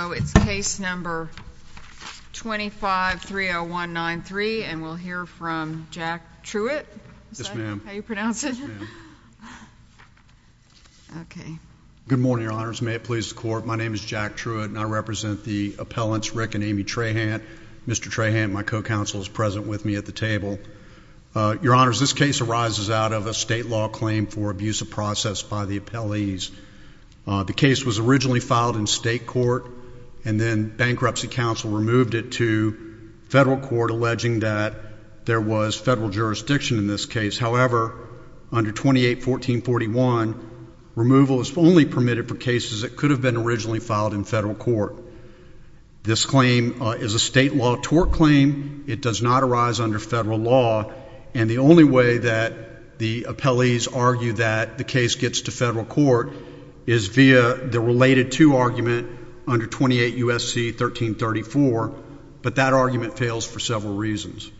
It's case number 2530193, and we'll hear from Jack Truitt. Yes, ma'am. Is that how you pronounce it? Yes, ma'am. Okay. Good morning, Your Honors. May it please the Court. My name is Jack Truitt, and I represent the appellants Rick and Amy Trahant. Mr. Trahant, my co-counsel, is present with me at the table. Your Honors, this case arises out of a state law claim for abuse of process by the appellees. The case was originally filed in state court, and then bankruptcy counsel removed it to federal court, alleging that there was federal jurisdiction in this case. However, under 28-1441, removal is only permitted for cases that could have been originally filed in federal court. This claim is a state law tort claim. It does not arise under federal law. And the only way that the appellees argue that the case gets to federal court is via the related to argument under 28 U.S.C. 1334, but that argument fails for several reasons.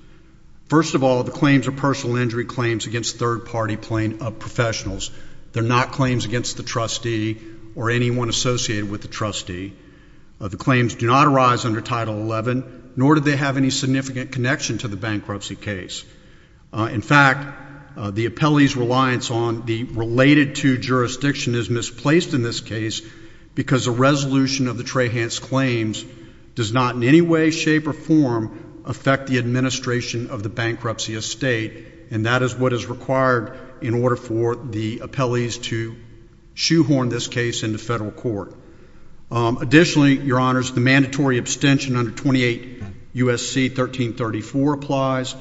First of all, the claims are personal injury claims against third-party professionals. They're not claims against the trustee or anyone associated with the trustee. The claims do not arise under Title XI, nor do they have any significant connection to the bankruptcy case. In fact, the appellee's reliance on the related to jurisdiction is misplaced in this case because the resolution of the Trahant's claims does not in any way, shape, or form affect the administration of the bankruptcy estate, and that is what is required in order for the appellees to shoehorn this case into federal court. Additionally, Your Honors, the mandatory abstention under 28 U.S.C. 1334 applies.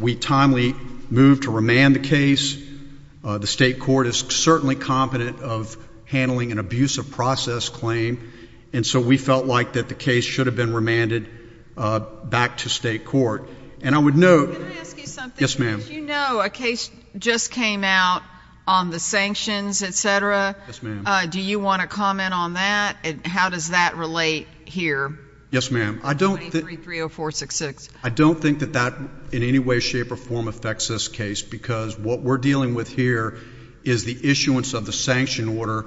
We timely move to remand the case. The state court is certainly competent of handling an abusive process claim, and so we felt like that the case should have been remanded back to state court. And I would note— Can I ask you something? Yes, ma'am. As you know, a case just came out on the sanctions, et cetera. Yes, ma'am. Do you want to comment on that and how does that relate here? Yes, ma'am. I don't— 2330466. I don't think that that in any way, shape, or form affects this case because what we're dealing with here is the issuance of the sanction order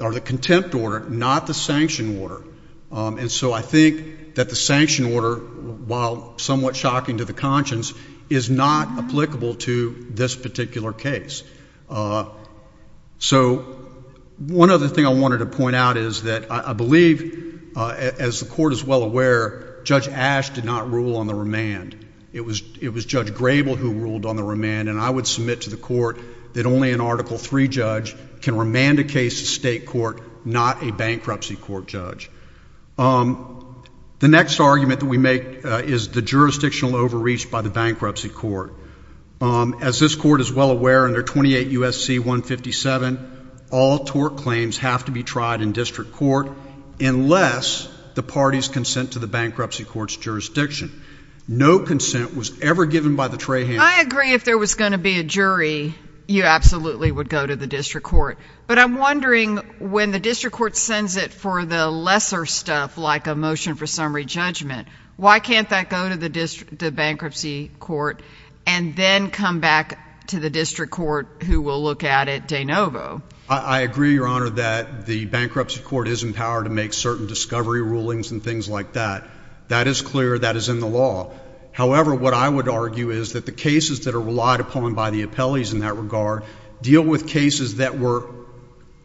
or the contempt order, not the sanction order. And so I think that the sanction order, while somewhat shocking to the conscience, is not applicable to this particular case. So one other thing I wanted to point out is that I believe, as the court is well aware, Judge Ash did not rule on the remand. It was Judge Grable who ruled on the remand, and I would submit to the court that only an Article III judge can remand a case to state court, not a bankruptcy court judge. The next argument that we make is the jurisdictional overreach by the bankruptcy court. As this court is well aware, under 28 U.S.C. 157, all tort claims have to be tried in district court unless the parties consent to the bankruptcy court's jurisdiction. No consent was ever given by the trayhand. I agree if there was going to be a jury, you absolutely would go to the district court. But I'm wondering, when the district court sends it for the lesser stuff, like a motion for summary judgment, why can't that go to the bankruptcy court and then come back to the district court who will look at it de novo? I agree, Your Honor, that the bankruptcy court is empowered to make certain discovery rulings and things like that. That is clear. That is in the law. However, what I would argue is that the cases that are relied upon by the appellees in that regard deal with cases that were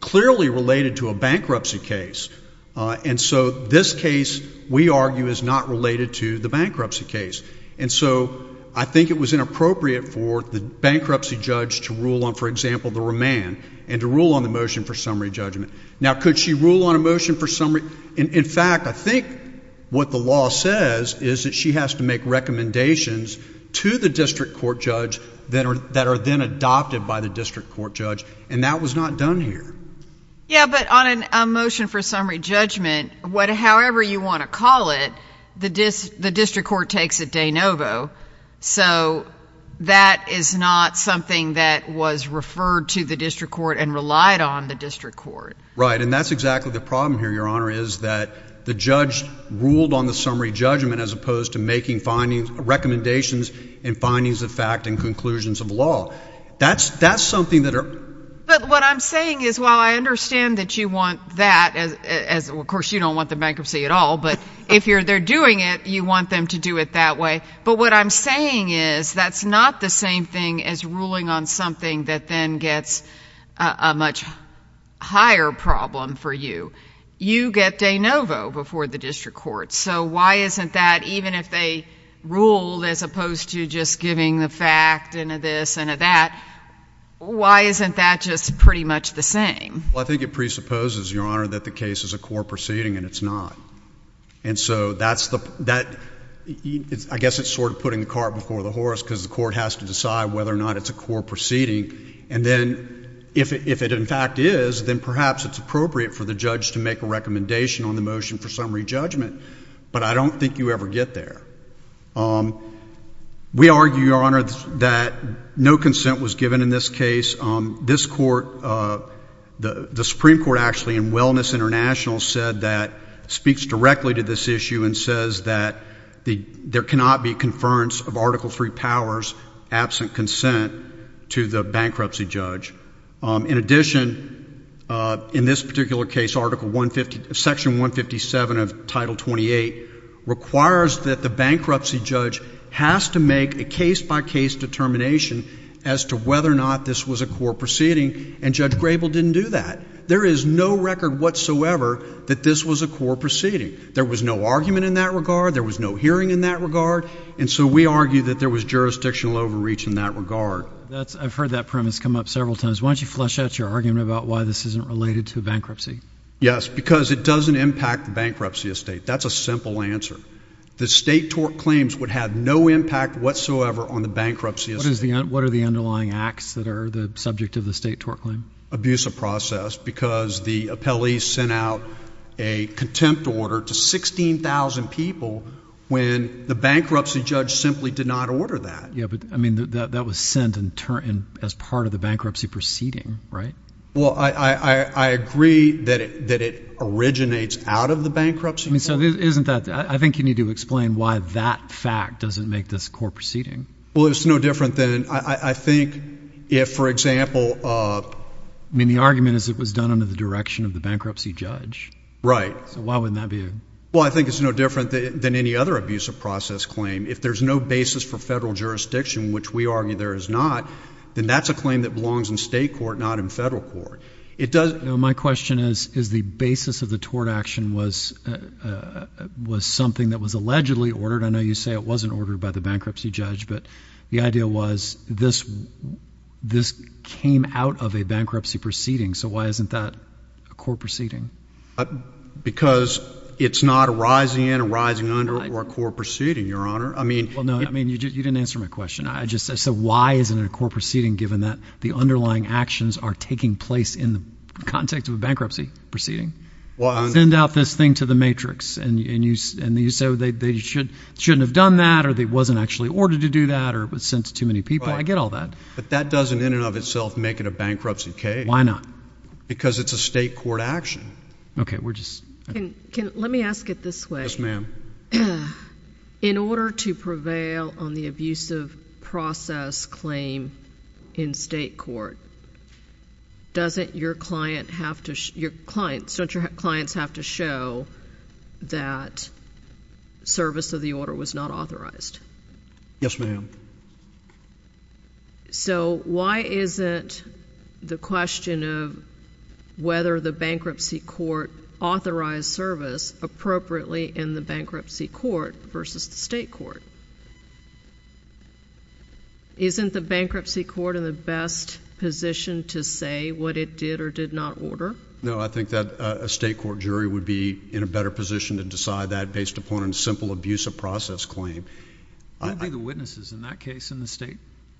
clearly related to a bankruptcy case. And so this case, we argue, is not related to the bankruptcy case. And so I think it was inappropriate for the bankruptcy judge to rule on, for example, the remand, and to rule on the motion for summary judgment. Now, could she rule on a motion for summary? In fact, I think what the law says is that she has to make recommendations to the district court judge that are then adopted by the district court judge, and that was not done here. Yeah, but on a motion for summary judgment, however you want to call it, the district court takes it de novo. So that is not something that was referred to the district court and relied on the district court. Right, and that's exactly the problem here, Your Honor, is that the judge ruled on the summary judgment as opposed to making recommendations and findings of fact and conclusions of law. But what I'm saying is, while I understand that you want that, of course you don't want the bankruptcy at all, but if they're doing it, you want them to do it that way. But what I'm saying is that's not the same thing as ruling on something that then gets a much higher problem for you. You get de novo before the district court. So why isn't that, even if they ruled as opposed to just giving the fact and a this and a that, why isn't that just pretty much the same? Well, I think it presupposes, Your Honor, that the case is a court proceeding and it's not. And so that's the—I guess it's sort of putting the cart before the horse because the court has to decide whether or not it's a court proceeding. And then if it in fact is, then perhaps it's appropriate for the judge to make a recommendation on the motion for summary judgment. But I don't think you ever get there. We argue, Your Honor, that no consent was given in this case. This court, the Supreme Court actually, and Wellness International said that, speaks directly to this issue and says that there cannot be conference of Article III powers absent consent to the bankruptcy judge. In addition, in this particular case, Article 150—Section 157 of Title 28 requires that the bankruptcy judge has to make a case-by-case determination as to whether or not this was a court proceeding, and Judge Grable didn't do that. There is no record whatsoever that this was a court proceeding. There was no argument in that regard. There was no hearing in that regard. And so we argue that there was jurisdictional overreach in that regard. I've heard that premise come up several times. Why don't you flesh out your argument about why this isn't related to bankruptcy? Yes, because it doesn't impact the bankruptcy estate. That's a simple answer. The state tort claims would have no impact whatsoever on the bankruptcy estate. What are the underlying acts that are the subject of the state tort claim? Abuse of process because the appellee sent out a contempt order to 16,000 people when the bankruptcy judge simply did not order that. Yes, but, I mean, that was sent as part of the bankruptcy proceeding, right? Well, I agree that it originates out of the bankruptcy court. So isn't that—I think you need to explain why that fact doesn't make this a court proceeding. Well, it's no different than—I think if, for example— I mean, the argument is it was done under the direction of the bankruptcy judge. Right. So why wouldn't that be a— Well, I think it's no different than any other abuse of process claim. If there's no basis for federal jurisdiction, which we argue there is not, then that's a claim that belongs in state court, not in federal court. My question is the basis of the tort action was something that was allegedly ordered. I know you say it wasn't ordered by the bankruptcy judge, but the idea was this came out of a bankruptcy proceeding. So why isn't that a court proceeding? Because it's not a rising in, a rising under, or a court proceeding, Your Honor. I mean— Well, no, I mean, you didn't answer my question. So why isn't it a court proceeding given that the underlying actions are taking place in the context of a bankruptcy proceeding? Well— Send out this thing to the matrix, and you say they shouldn't have done that, or it wasn't actually ordered to do that, or it was sent to too many people. I get all that. But that doesn't in and of itself make it a bankruptcy case. Why not? Because it's a state court action. We're just— Let me ask it this way. Yes, ma'am. In order to prevail on the abusive process claim in state court, don't your clients have to show that service of the order was not authorized? Yes, ma'am. So why isn't the question of whether the bankruptcy court authorized service appropriately in the bankruptcy court versus the state court? Isn't the bankruptcy court in the best position to say what it did or did not order? No, I think that a state court jury would be in a better position to decide that based upon a simple abusive process claim. Who would be the witnesses in that case in the state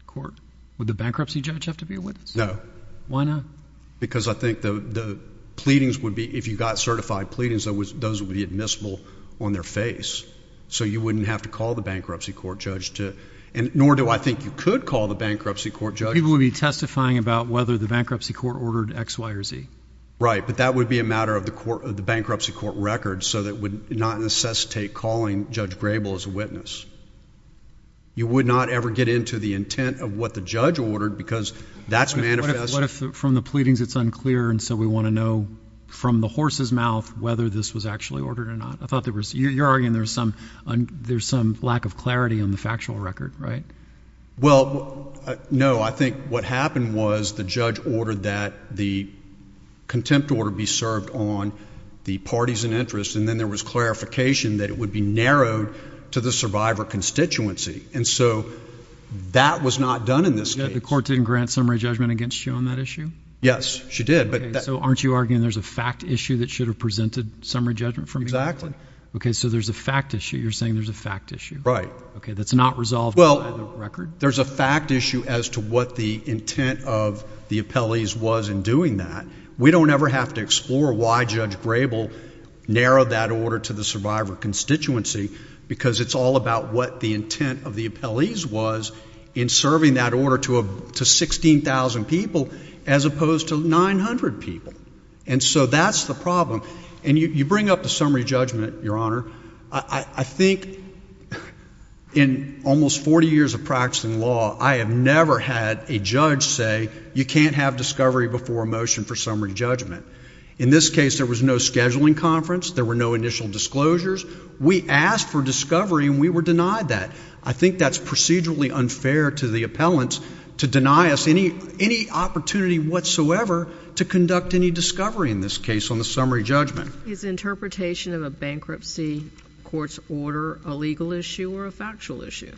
court? Would the bankruptcy judge have to be a witness? No. Why not? Because I think the pleadings would be—if you got certified pleadings, those would be admissible on their face. So you wouldn't have to call the bankruptcy court judge. Nor do I think you could call the bankruptcy court judge. People would be testifying about whether the bankruptcy court ordered X, Y, or Z. Right, but that would be a matter of the bankruptcy court record, so it would not necessitate calling Judge Grable as a witness. You would not ever get into the intent of what the judge ordered because that's manifest. What if from the pleadings it's unclear and so we want to know from the horse's mouth whether this was actually ordered or not? You're arguing there's some lack of clarity on the factual record, right? Well, no. I think what happened was the judge ordered that the contempt order be served on the parties in interest, and then there was clarification that it would be narrowed to the survivor constituency. And so that was not done in this case. The court didn't grant summary judgment against you on that issue? Yes, she did. So aren't you arguing there's a fact issue that should have presented summary judgment for me? Exactly. Okay, so there's a fact issue. You're saying there's a fact issue. Right. Okay, that's not resolved by the record? Well, there's a fact issue as to what the intent of the appellees was in doing that. We don't ever have to explore why Judge Grable narrowed that order to the survivor constituency because it's all about what the intent of the appellees was in serving that order to 16,000 people as opposed to 900 people. And so that's the problem. And you bring up the summary judgment, Your Honor. I think in almost 40 years of practicing law, I have never had a judge say you can't have discovery before a motion for summary judgment. In this case, there was no scheduling conference. There were no initial disclosures. We asked for discovery, and we were denied that. I think that's procedurally unfair to the appellants to deny us any opportunity whatsoever to conduct any discovery in this case on the summary judgment. Is interpretation of a bankruptcy court's order a legal issue or a factual issue?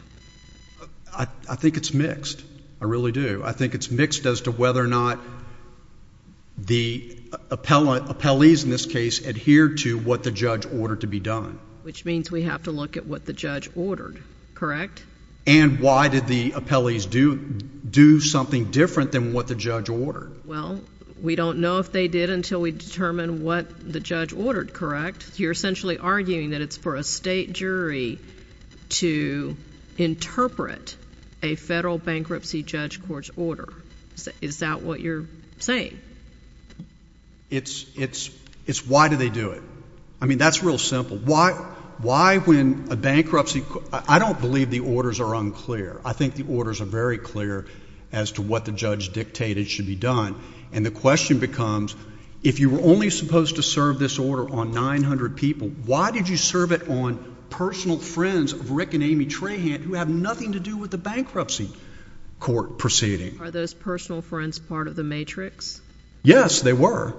I think it's mixed. I really do. I think it's mixed as to whether or not the appellees in this case adhered to what the judge ordered to be done. Which means we have to look at what the judge ordered, correct? And why did the appellees do something different than what the judge ordered? Well, we don't know if they did until we determine what the judge ordered, correct? You're essentially arguing that it's for a state jury to interpret a federal bankruptcy judge court's order. Is that what you're saying? It's why do they do it. I mean, that's real simple. Why when a bankruptcy court — I don't believe the orders are unclear. I think the orders are very clear as to what the judge dictated should be done. And the question becomes if you were only supposed to serve this order on 900 people, why did you serve it on personal friends of Rick and Amy Trahan who have nothing to do with the bankruptcy court proceeding? Are those personal friends part of the matrix? Yes, they were.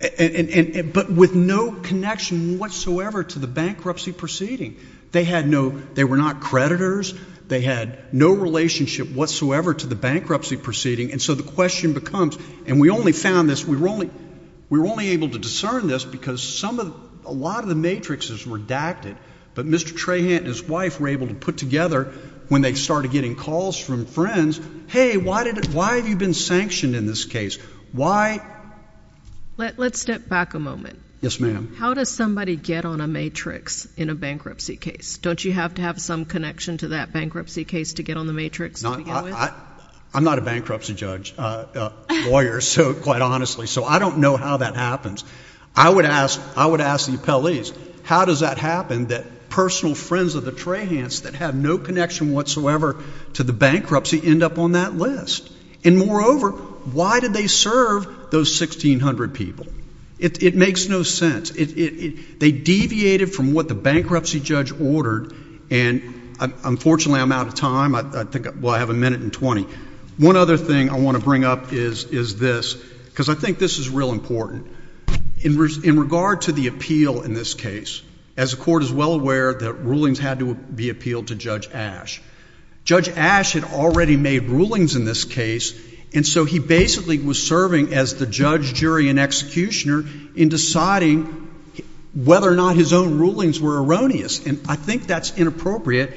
But with no connection whatsoever to the bankruptcy proceeding. They were not creditors. They had no relationship whatsoever to the bankruptcy proceeding. And so the question becomes, and we only found this. We were only able to discern this because a lot of the matrixes were adapted. But Mr. Trahan and his wife were able to put together when they started getting calls from friends, hey, why have you been sanctioned in this case? Why? Let's step back a moment. Yes, ma'am. How does somebody get on a matrix in a bankruptcy case? Don't you have to have some connection to that bankruptcy case to get on the matrix to begin with? I'm not a bankruptcy judge, lawyer, quite honestly, so I don't know how that happens. I would ask the appellees, how does that happen that personal friends of the Trahans that have no connection whatsoever to the bankruptcy end up on that list? And moreover, why did they serve those 1,600 people? It makes no sense. They deviated from what the bankruptcy judge ordered, and unfortunately I'm out of time. I think I have a minute and 20. One other thing I want to bring up is this, because I think this is real important. In regard to the appeal in this case, as the court is well aware, the rulings had to be appealed to Judge Ash. Judge Ash had already made rulings in this case, and so he basically was serving as the judge, jury, and executioner in deciding whether or not his own rulings were erroneous. And I think that's inappropriate,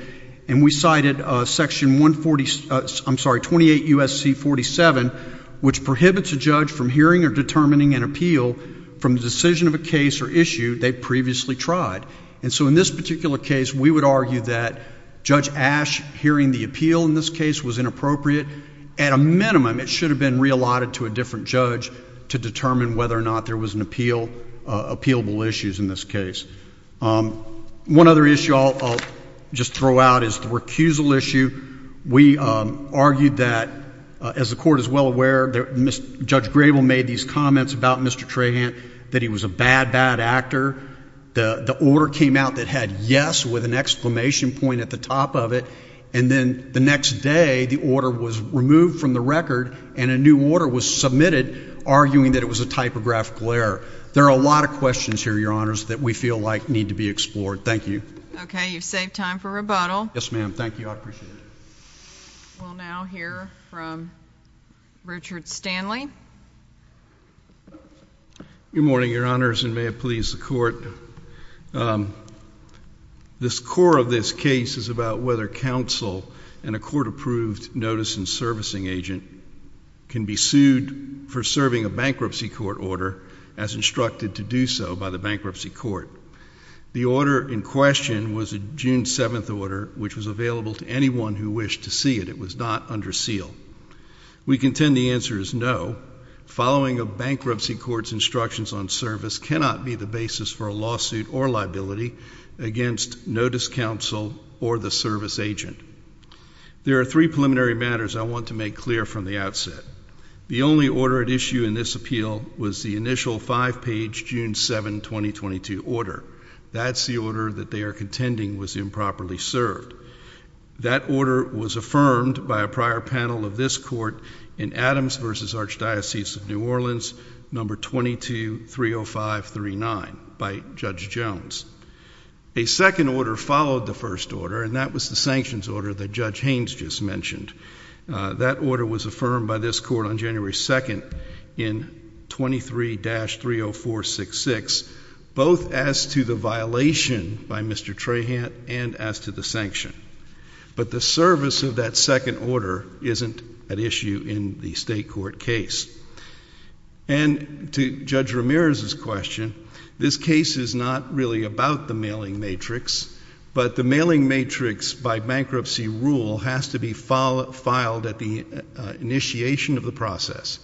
and we cited Section 146 – I'm sorry, 28 U.S.C. 47, which prohibits a judge from hearing or determining an appeal from the decision of a case or issue they previously tried. And so in this particular case, we would argue that Judge Ash hearing the appeal in this case was inappropriate. At a minimum, it should have been reallotted to a different judge to determine whether or not there was an appeal, appealable issues in this case. One other issue I'll just throw out is the recusal issue. We argued that, as the court is well aware, Judge Grable made these comments about Mr. Trahant, that he was a bad, bad actor. The order came out that had yes with an exclamation point at the top of it, and then the next day, the order was removed from the record, and a new order was submitted arguing that it was a typographical error. There are a lot of questions here, Your Honors, that we feel like need to be explored. Thank you. Okay. You've saved time for rebuttal. Yes, ma'am. Thank you. I appreciate it. We'll now hear from Richard Stanley. Good morning, Your Honors, and may it please the Court. The score of this case is about whether counsel and a court-approved notice and servicing agent can be sued for serving a bankruptcy court order as instructed to do so by the bankruptcy court. The order in question was a June 7th order, which was available to anyone who wished to see it. It was not under seal. We contend the answer is no. Following a bankruptcy court's instructions on service cannot be the basis for a lawsuit or liability against notice counsel or the service agent. There are three preliminary matters I want to make clear from the outset. The only order at issue in this appeal was the initial five-page June 7, 2022 order. That's the order that they are contending was improperly served. That order was affirmed by a prior panel of this court in Adams v. Archdiocese of New Orleans, No. 22-30539 by Judge Jones. A second order followed the first order, and that was the sanctions order that Judge Haynes just mentioned. That order was affirmed by this court on January 2nd in 23-30466, both as to the violation by Mr. Trahant and as to the sanction. But the service of that second order isn't at issue in the state court case. And to Judge Ramirez's question, this case is not really about the mailing matrix, but the mailing matrix by bankruptcy rule has to be filed at the initiation of the process.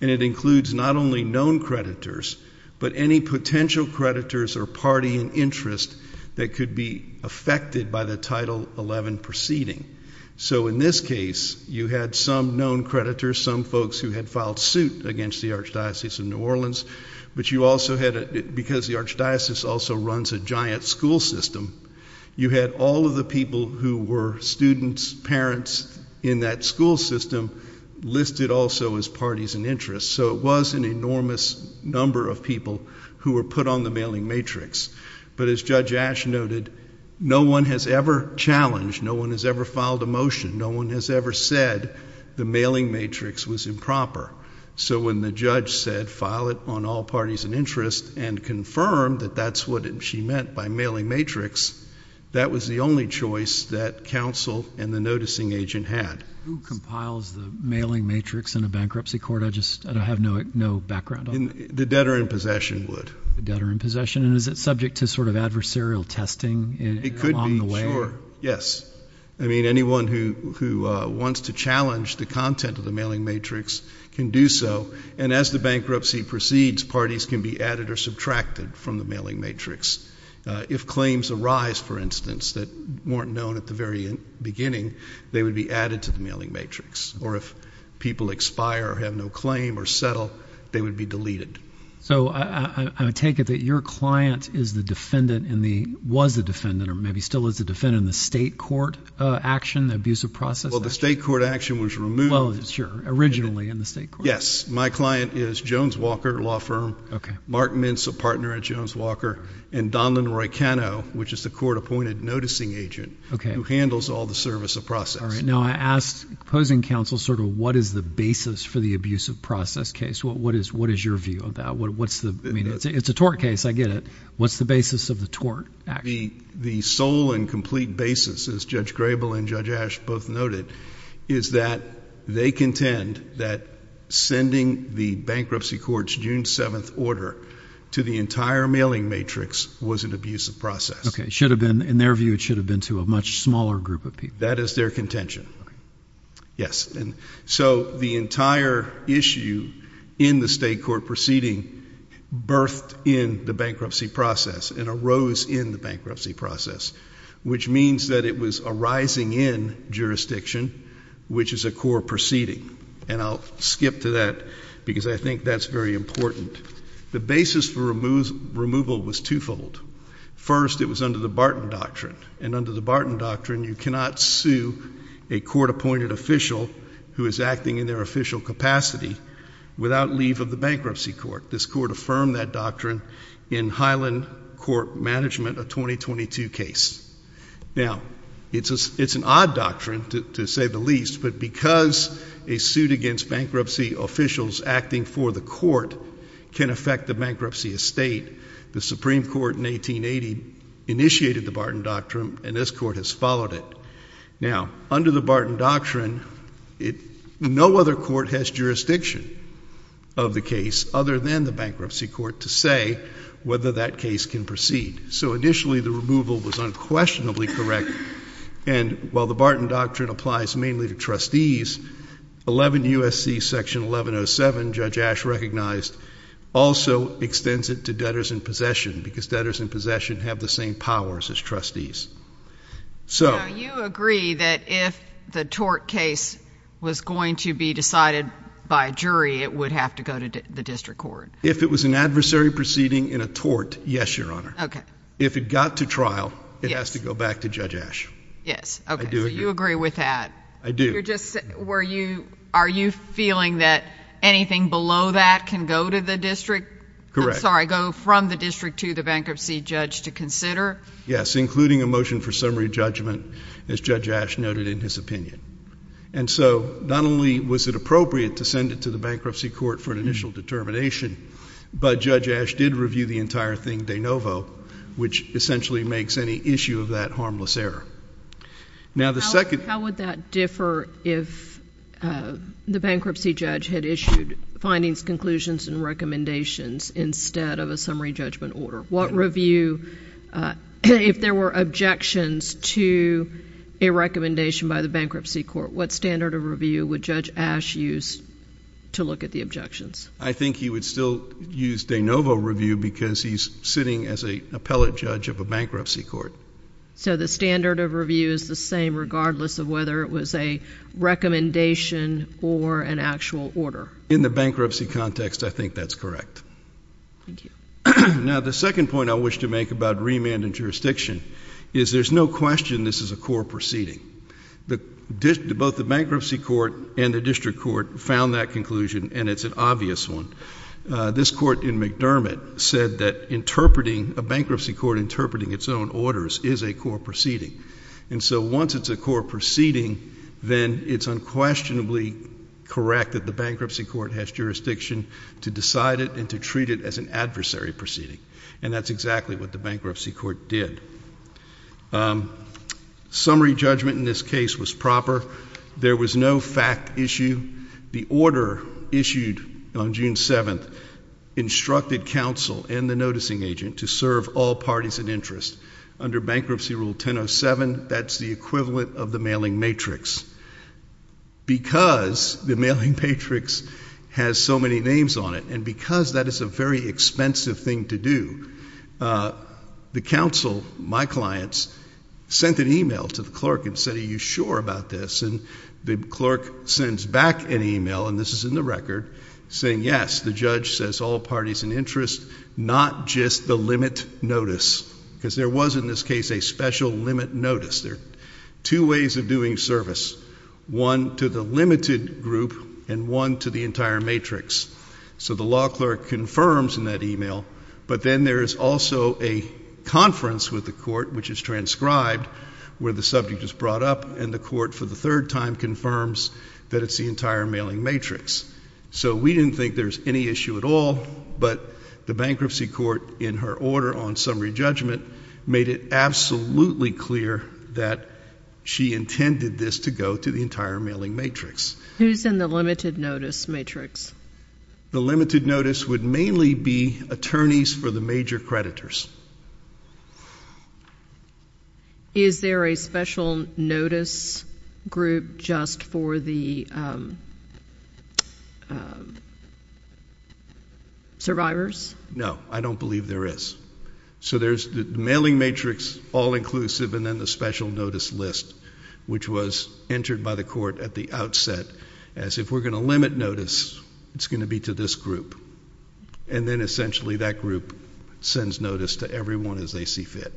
And it includes not only known creditors, but any potential creditors or party in interest that could be affected by the Title XI proceeding. So in this case, you had some known creditors, some folks who had filed suit against the Archdiocese of New Orleans, but you also had, because the Archdiocese also runs a giant school system, you had all of the people who were students, parents in that school system listed also as parties in interest. So it was an enormous number of people who were put on the mailing matrix. But as Judge Ashe noted, no one has ever challenged, no one has ever filed a motion, no one has ever said the mailing matrix was improper. So when the judge said file it on all parties in interest and confirmed that that's what she meant by mailing matrix, that was the only choice that counsel and the noticing agent had. Who compiles the mailing matrix in a bankruptcy court? I just have no background on that. The debtor in possession would. The debtor in possession, and is it subject to sort of adversarial testing along the way? It could be, sure, yes. I mean, anyone who wants to challenge the content of the mailing matrix can do so. And as the bankruptcy proceeds, parties can be added or subtracted from the mailing matrix. If claims arise, for instance, that weren't known at the very beginning, they would be added to the mailing matrix. Or if people expire or have no claim or settle, they would be deleted. So I take it that your client is the defendant and was the defendant or maybe still is the defendant in the state court action, the abusive process action? Well, the state court action was removed. Well, sure, originally in the state court. Yes, my client is Jones Walker Law Firm, Mark Mintz, a partner at Jones Walker, and Donlan Roycano, which is the court-appointed noticing agent who handles all the service of process. All right, now I asked opposing counsel sort of what is the basis for the abusive process case? What is your view of that? I mean, it's a tort case, I get it. What's the basis of the tort action? The sole and complete basis, as Judge Grable and Judge Ash both noted, is that they contend that sending the bankruptcy court's June 7th order to the entire mailing matrix was an abusive process. Okay, in their view it should have been to a much smaller group of people. That is their contention. Yes, and so the entire issue in the state court proceeding birthed in the bankruptcy process and arose in the bankruptcy process, which means that it was a rising-in jurisdiction, which is a core proceeding. And I'll skip to that because I think that's very important. The basis for removal was twofold. First, it was under the Barton Doctrine, and under the Barton Doctrine you cannot sue a court-appointed official who is acting in their official capacity without leave of the bankruptcy court. This court affirmed that doctrine in Highland Court Management, a 2022 case. Now, it's an odd doctrine, to say the least, but because a suit against bankruptcy officials acting for the court can affect the bankruptcy estate, the Supreme Court in 1880 initiated the Barton Doctrine, and this court has followed it. Now, under the Barton Doctrine, no other court has jurisdiction of the case other than the bankruptcy court to say whether that case can proceed. So initially the removal was unquestionably correct, and while the Barton Doctrine applies mainly to trustees, 11 U.S.C. Section 1107, Judge Ash recognized, also extends it to debtors in possession because debtors in possession have the same powers as trustees. Now, you agree that if the tort case was going to be decided by a jury, it would have to go to the district court? If it was an adversary proceeding in a tort, yes, Your Honor. If it got to trial, it has to go back to Judge Ash. Yes, okay. I do agree. So you agree with that? I do. Are you feeling that anything below that can go to the district? Correct. I'm sorry, go from the district to the bankruptcy judge to consider? Yes, including a motion for summary judgment, as Judge Ash noted in his opinion. And so not only was it appropriate to send it to the bankruptcy court for an initial determination, but Judge Ash did review the entire thing de novo, which essentially makes any issue of that harmless error. How would that differ if the bankruptcy judge had issued findings, conclusions, and recommendations instead of a summary judgment order? If there were objections to a recommendation by the bankruptcy court, what standard of review would Judge Ash use to look at the objections? I think he would still use de novo review because he's sitting as an appellate judge of a bankruptcy court. So the standard of review is the same regardless of whether it was a recommendation or an actual order? In the bankruptcy context, I think that's correct. Thank you. Now, the second point I wish to make about remand and jurisdiction is there's no question this is a court proceeding. Both the bankruptcy court and the district court found that conclusion, and it's an obvious one. This court in McDermott said that interpreting, a bankruptcy court interpreting its own orders is a court proceeding. And so once it's a court proceeding, then it's unquestionably correct that the bankruptcy court has jurisdiction to decide it and to treat it as an adversary proceeding. And that's exactly what the bankruptcy court did. Summary judgment in this case was proper. There was no fact issue. The order issued on June 7th instructed counsel and the noticing agent to serve all parties in interest. Under Bankruptcy Rule 1007, that's the equivalent of the mailing matrix. Because the mailing matrix has so many names on it and because that is a very expensive thing to do, the counsel, my clients, sent an email to the clerk and said, are you sure about this? And the clerk sends back an email, and this is in the record, saying, yes, the judge says all parties in interest, not just the limit notice, because there was in this case a special limit notice. There are two ways of doing service, one to the limited group and one to the entire matrix. So the law clerk confirms in that email, but then there is also a conference with the court, which is transcribed, where the subject is brought up, and the court for the third time confirms that it's the entire mailing matrix. So we didn't think there's any issue at all, but the bankruptcy court in her order on summary judgment made it absolutely clear that she intended this to go to the entire mailing matrix. Who's in the limited notice matrix? The limited notice would mainly be attorneys for the major creditors. Is there a special notice group just for the survivors? No, I don't believe there is. So there's the mailing matrix, all inclusive, and then the special notice list, which was entered by the court at the outset as if we're going to limit notice, it's going to be to this group. And then essentially that group sends notice to everyone as they see fit.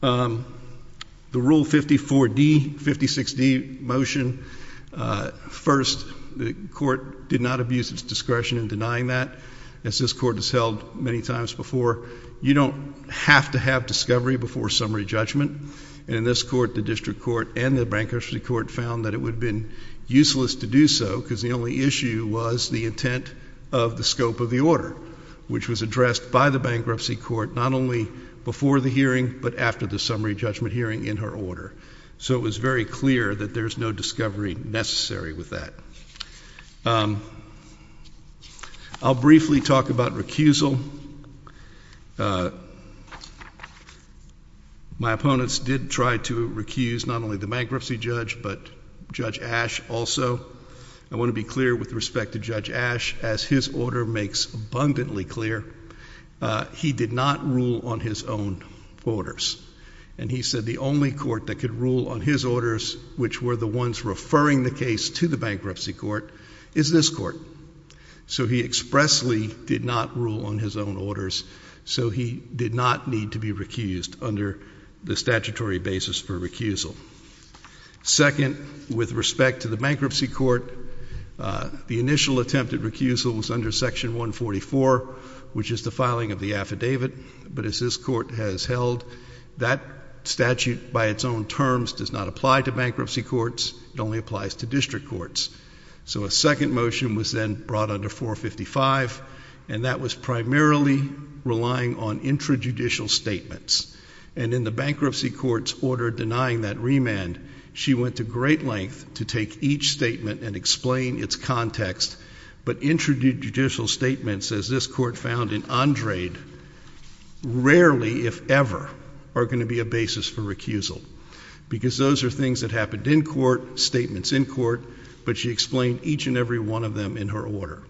The Rule 54D, 56D motion, first, the court did not abuse its discretion in denying that. As this court has held many times before, you don't have to have discovery before summary judgment. And in this court, the district court and the bankruptcy court found that it would have been useless to do so because the only issue was the intent of the scope of the order, which was addressed by the bankruptcy court not only before the hearing but after the summary judgment hearing in her order. So it was very clear that there's no discovery necessary with that. I'll briefly talk about recusal. My opponents did try to recuse not only the bankruptcy judge but Judge Ash also. I want to be clear with respect to Judge Ash, as his order makes abundantly clear, he did not rule on his own orders. And he said the only court that could rule on his orders, which were the ones referring the case to the bankruptcy court, is this court. So he expressly did not rule on his own orders. So he did not need to be recused under the statutory basis for recusal. Second, with respect to the bankruptcy court, the initial attempt at recusal was under Section 144, which is the filing of the affidavit. But as this court has held, that statute by its own terms does not apply to bankruptcy courts. It only applies to district courts. So a second motion was then brought under 455, and that was primarily relying on intrajudicial statements. And in the bankruptcy court's order denying that remand, she went to great length to take each statement and explain its context. But intrajudicial statements, as this court found in Andrade, rarely, if ever, are going to be a basis for recusal. Because those are things that happened in court, statements in court, but she explained each and every one of them in her order.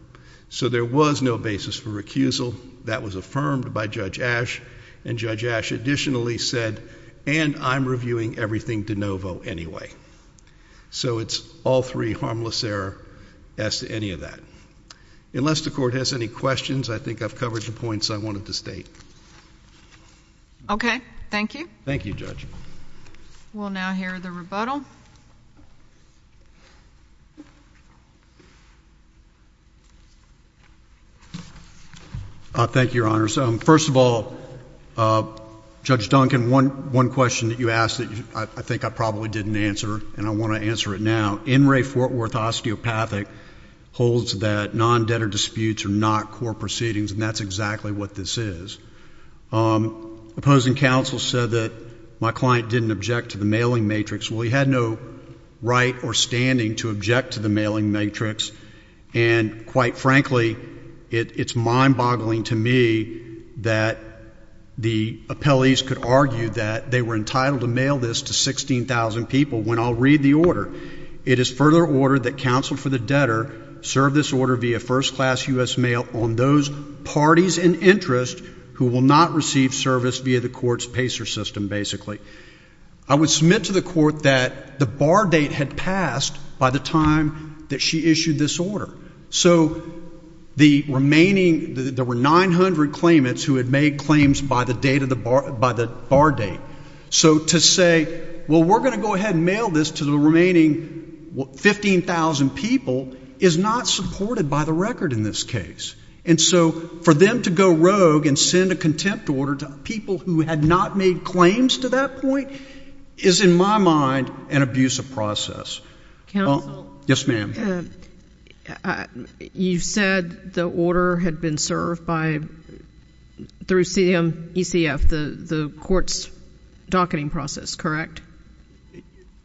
So there was no basis for recusal. That was affirmed by Judge Ash. And Judge Ash additionally said, and I'm reviewing everything de novo anyway. So it's all three harmless error as to any of that. Unless the court has any questions, I think I've covered the points I wanted to state. Okay. Thank you. Thank you, Judge. We'll now hear the rebuttal. Thank you, Your Honors. First of all, Judge Duncan, one question that you asked that I think I probably didn't answer and I want to answer it now. In re Fort Worth osteopathic holds that non-debtor disputes are not court proceedings, and that's exactly what this is. Opposing counsel said that my client didn't object to the mailing matrix. Well, he had no right or standing to object to the mailing matrix. And quite frankly, it's mind-boggling to me that the appellees could argue that they were entitled to mail this to 16,000 people when I'll read the order. It is further ordered that counsel for the debtor serve this order via first-class U.S. mail on those parties in interest who will not receive service via the court's PACER system, basically. I would submit to the court that the bar date had passed by the time that she issued this order. So the remaining, there were 900 claimants who had made claims by the date of the bar, by the bar date. So to say, well, we're going to go ahead and mail this to the remaining 15,000 people is not supported by the record in this case. And so for them to go rogue and send a contempt order to people who had not made claims to that point is, in my mind, an abusive process. Yes, ma'am. You said the order had been served by, through CMECF, the court's docketing process, correct?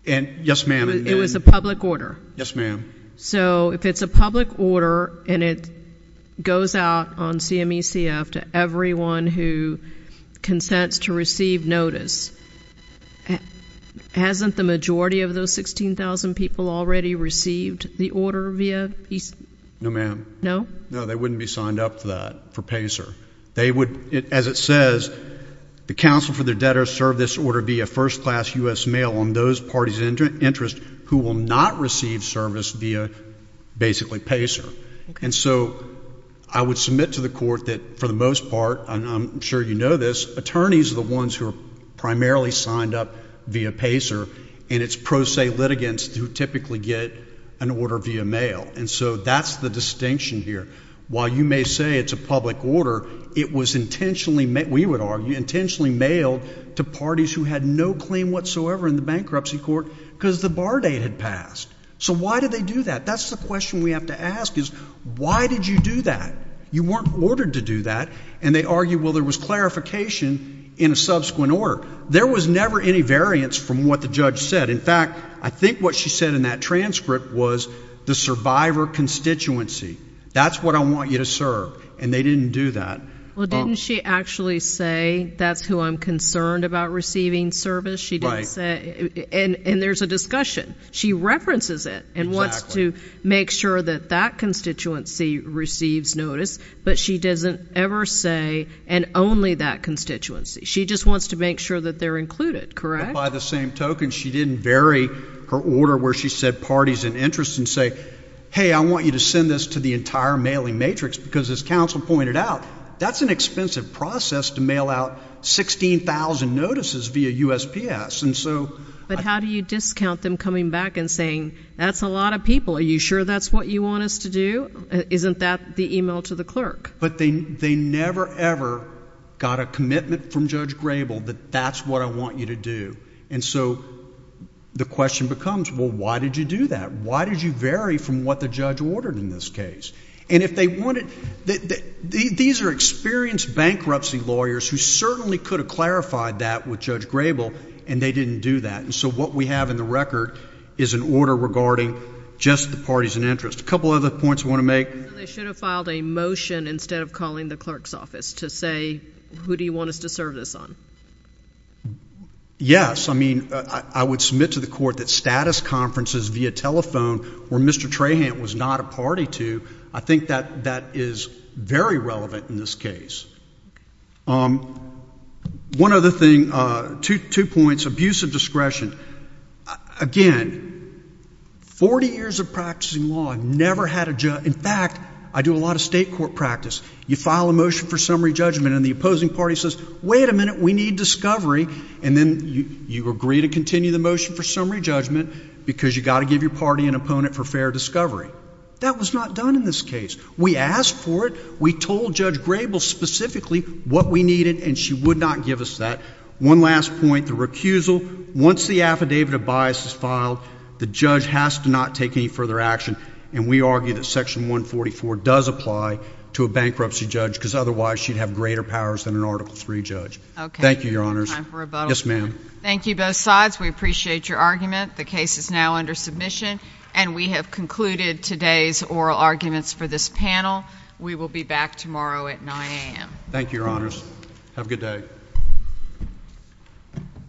Yes, ma'am. It was a public order. Yes, ma'am. So if it's a public order and it goes out on CMECF to everyone who consents to receive notice, hasn't the majority of those 16,000 people already received the order via? No, ma'am. No? No, they wouldn't be signed up for that, for PACER. They would, as it says, the counsel for the debtors serve this order via first-class U.S. mail on those parties of interest who will not receive service via basically PACER. And so I would submit to the court that for the most part, and I'm sure you know this, attorneys are the ones who are primarily signed up via PACER, and it's pro se litigants who typically get an order via mail. And so that's the distinction here. While you may say it's a public order, it was intentionally, we would argue, intentionally mailed to parties who had no claim whatsoever in the bankruptcy court because the bar date had passed. So why did they do that? That's the question we have to ask is why did you do that? You weren't ordered to do that. And they argue, well, there was clarification in a subsequent order. There was never any variance from what the judge said. In fact, I think what she said in that transcript was the survivor constituency. That's what I want you to serve. And they didn't do that. Well, didn't she actually say that's who I'm concerned about receiving service? Right. And there's a discussion. She references it and wants to make sure that that constituency receives notice, but she doesn't ever say and only that constituency. She just wants to make sure that they're included, correct? She didn't vary her order where she said parties and interests and say, hey, I want you to send this to the entire mailing matrix because, as counsel pointed out, that's an expensive process to mail out 16,000 notices via USPS. But how do you discount them coming back and saying that's a lot of people? Are you sure that's what you want us to do? Isn't that the email to the clerk? But they never, ever got a commitment from Judge Grable that that's what I want you to do. And so the question becomes, well, why did you do that? Why did you vary from what the judge ordered in this case? And if they wanted – these are experienced bankruptcy lawyers who certainly could have clarified that with Judge Grable, and they didn't do that. And so what we have in the record is an order regarding just the parties and interests. A couple other points I want to make. So they should have filed a motion instead of calling the clerk's office to say, who do you want us to serve this on? Yes. I mean, I would submit to the court that status conferences via telephone where Mr. Trahant was not a party to, I think that that is very relevant in this case. One other thing, two points. Abuse of discretion. Again, 40 years of practicing law, I've never had a – in fact, I do a lot of state court practice. You file a motion for summary judgment, and the opposing party says, wait a minute, we need discovery. And then you agree to continue the motion for summary judgment because you've got to give your party an opponent for fair discovery. That was not done in this case. We asked for it. We told Judge Grable specifically what we needed, and she would not give us that. One last point, the recusal. Once the affidavit of bias is filed, the judge has to not take any further action, and we argue that Section 144 does apply to a bankruptcy judge because otherwise she'd have greater powers than an Article III judge. Okay. Thank you, Your Honors. Yes, ma'am. Thank you, both sides. We appreciate your argument. The case is now under submission, and we have concluded today's oral arguments for this panel. We will be back tomorrow at 9 a.m. Thank you, Your Honors. Have a good day. Thank you.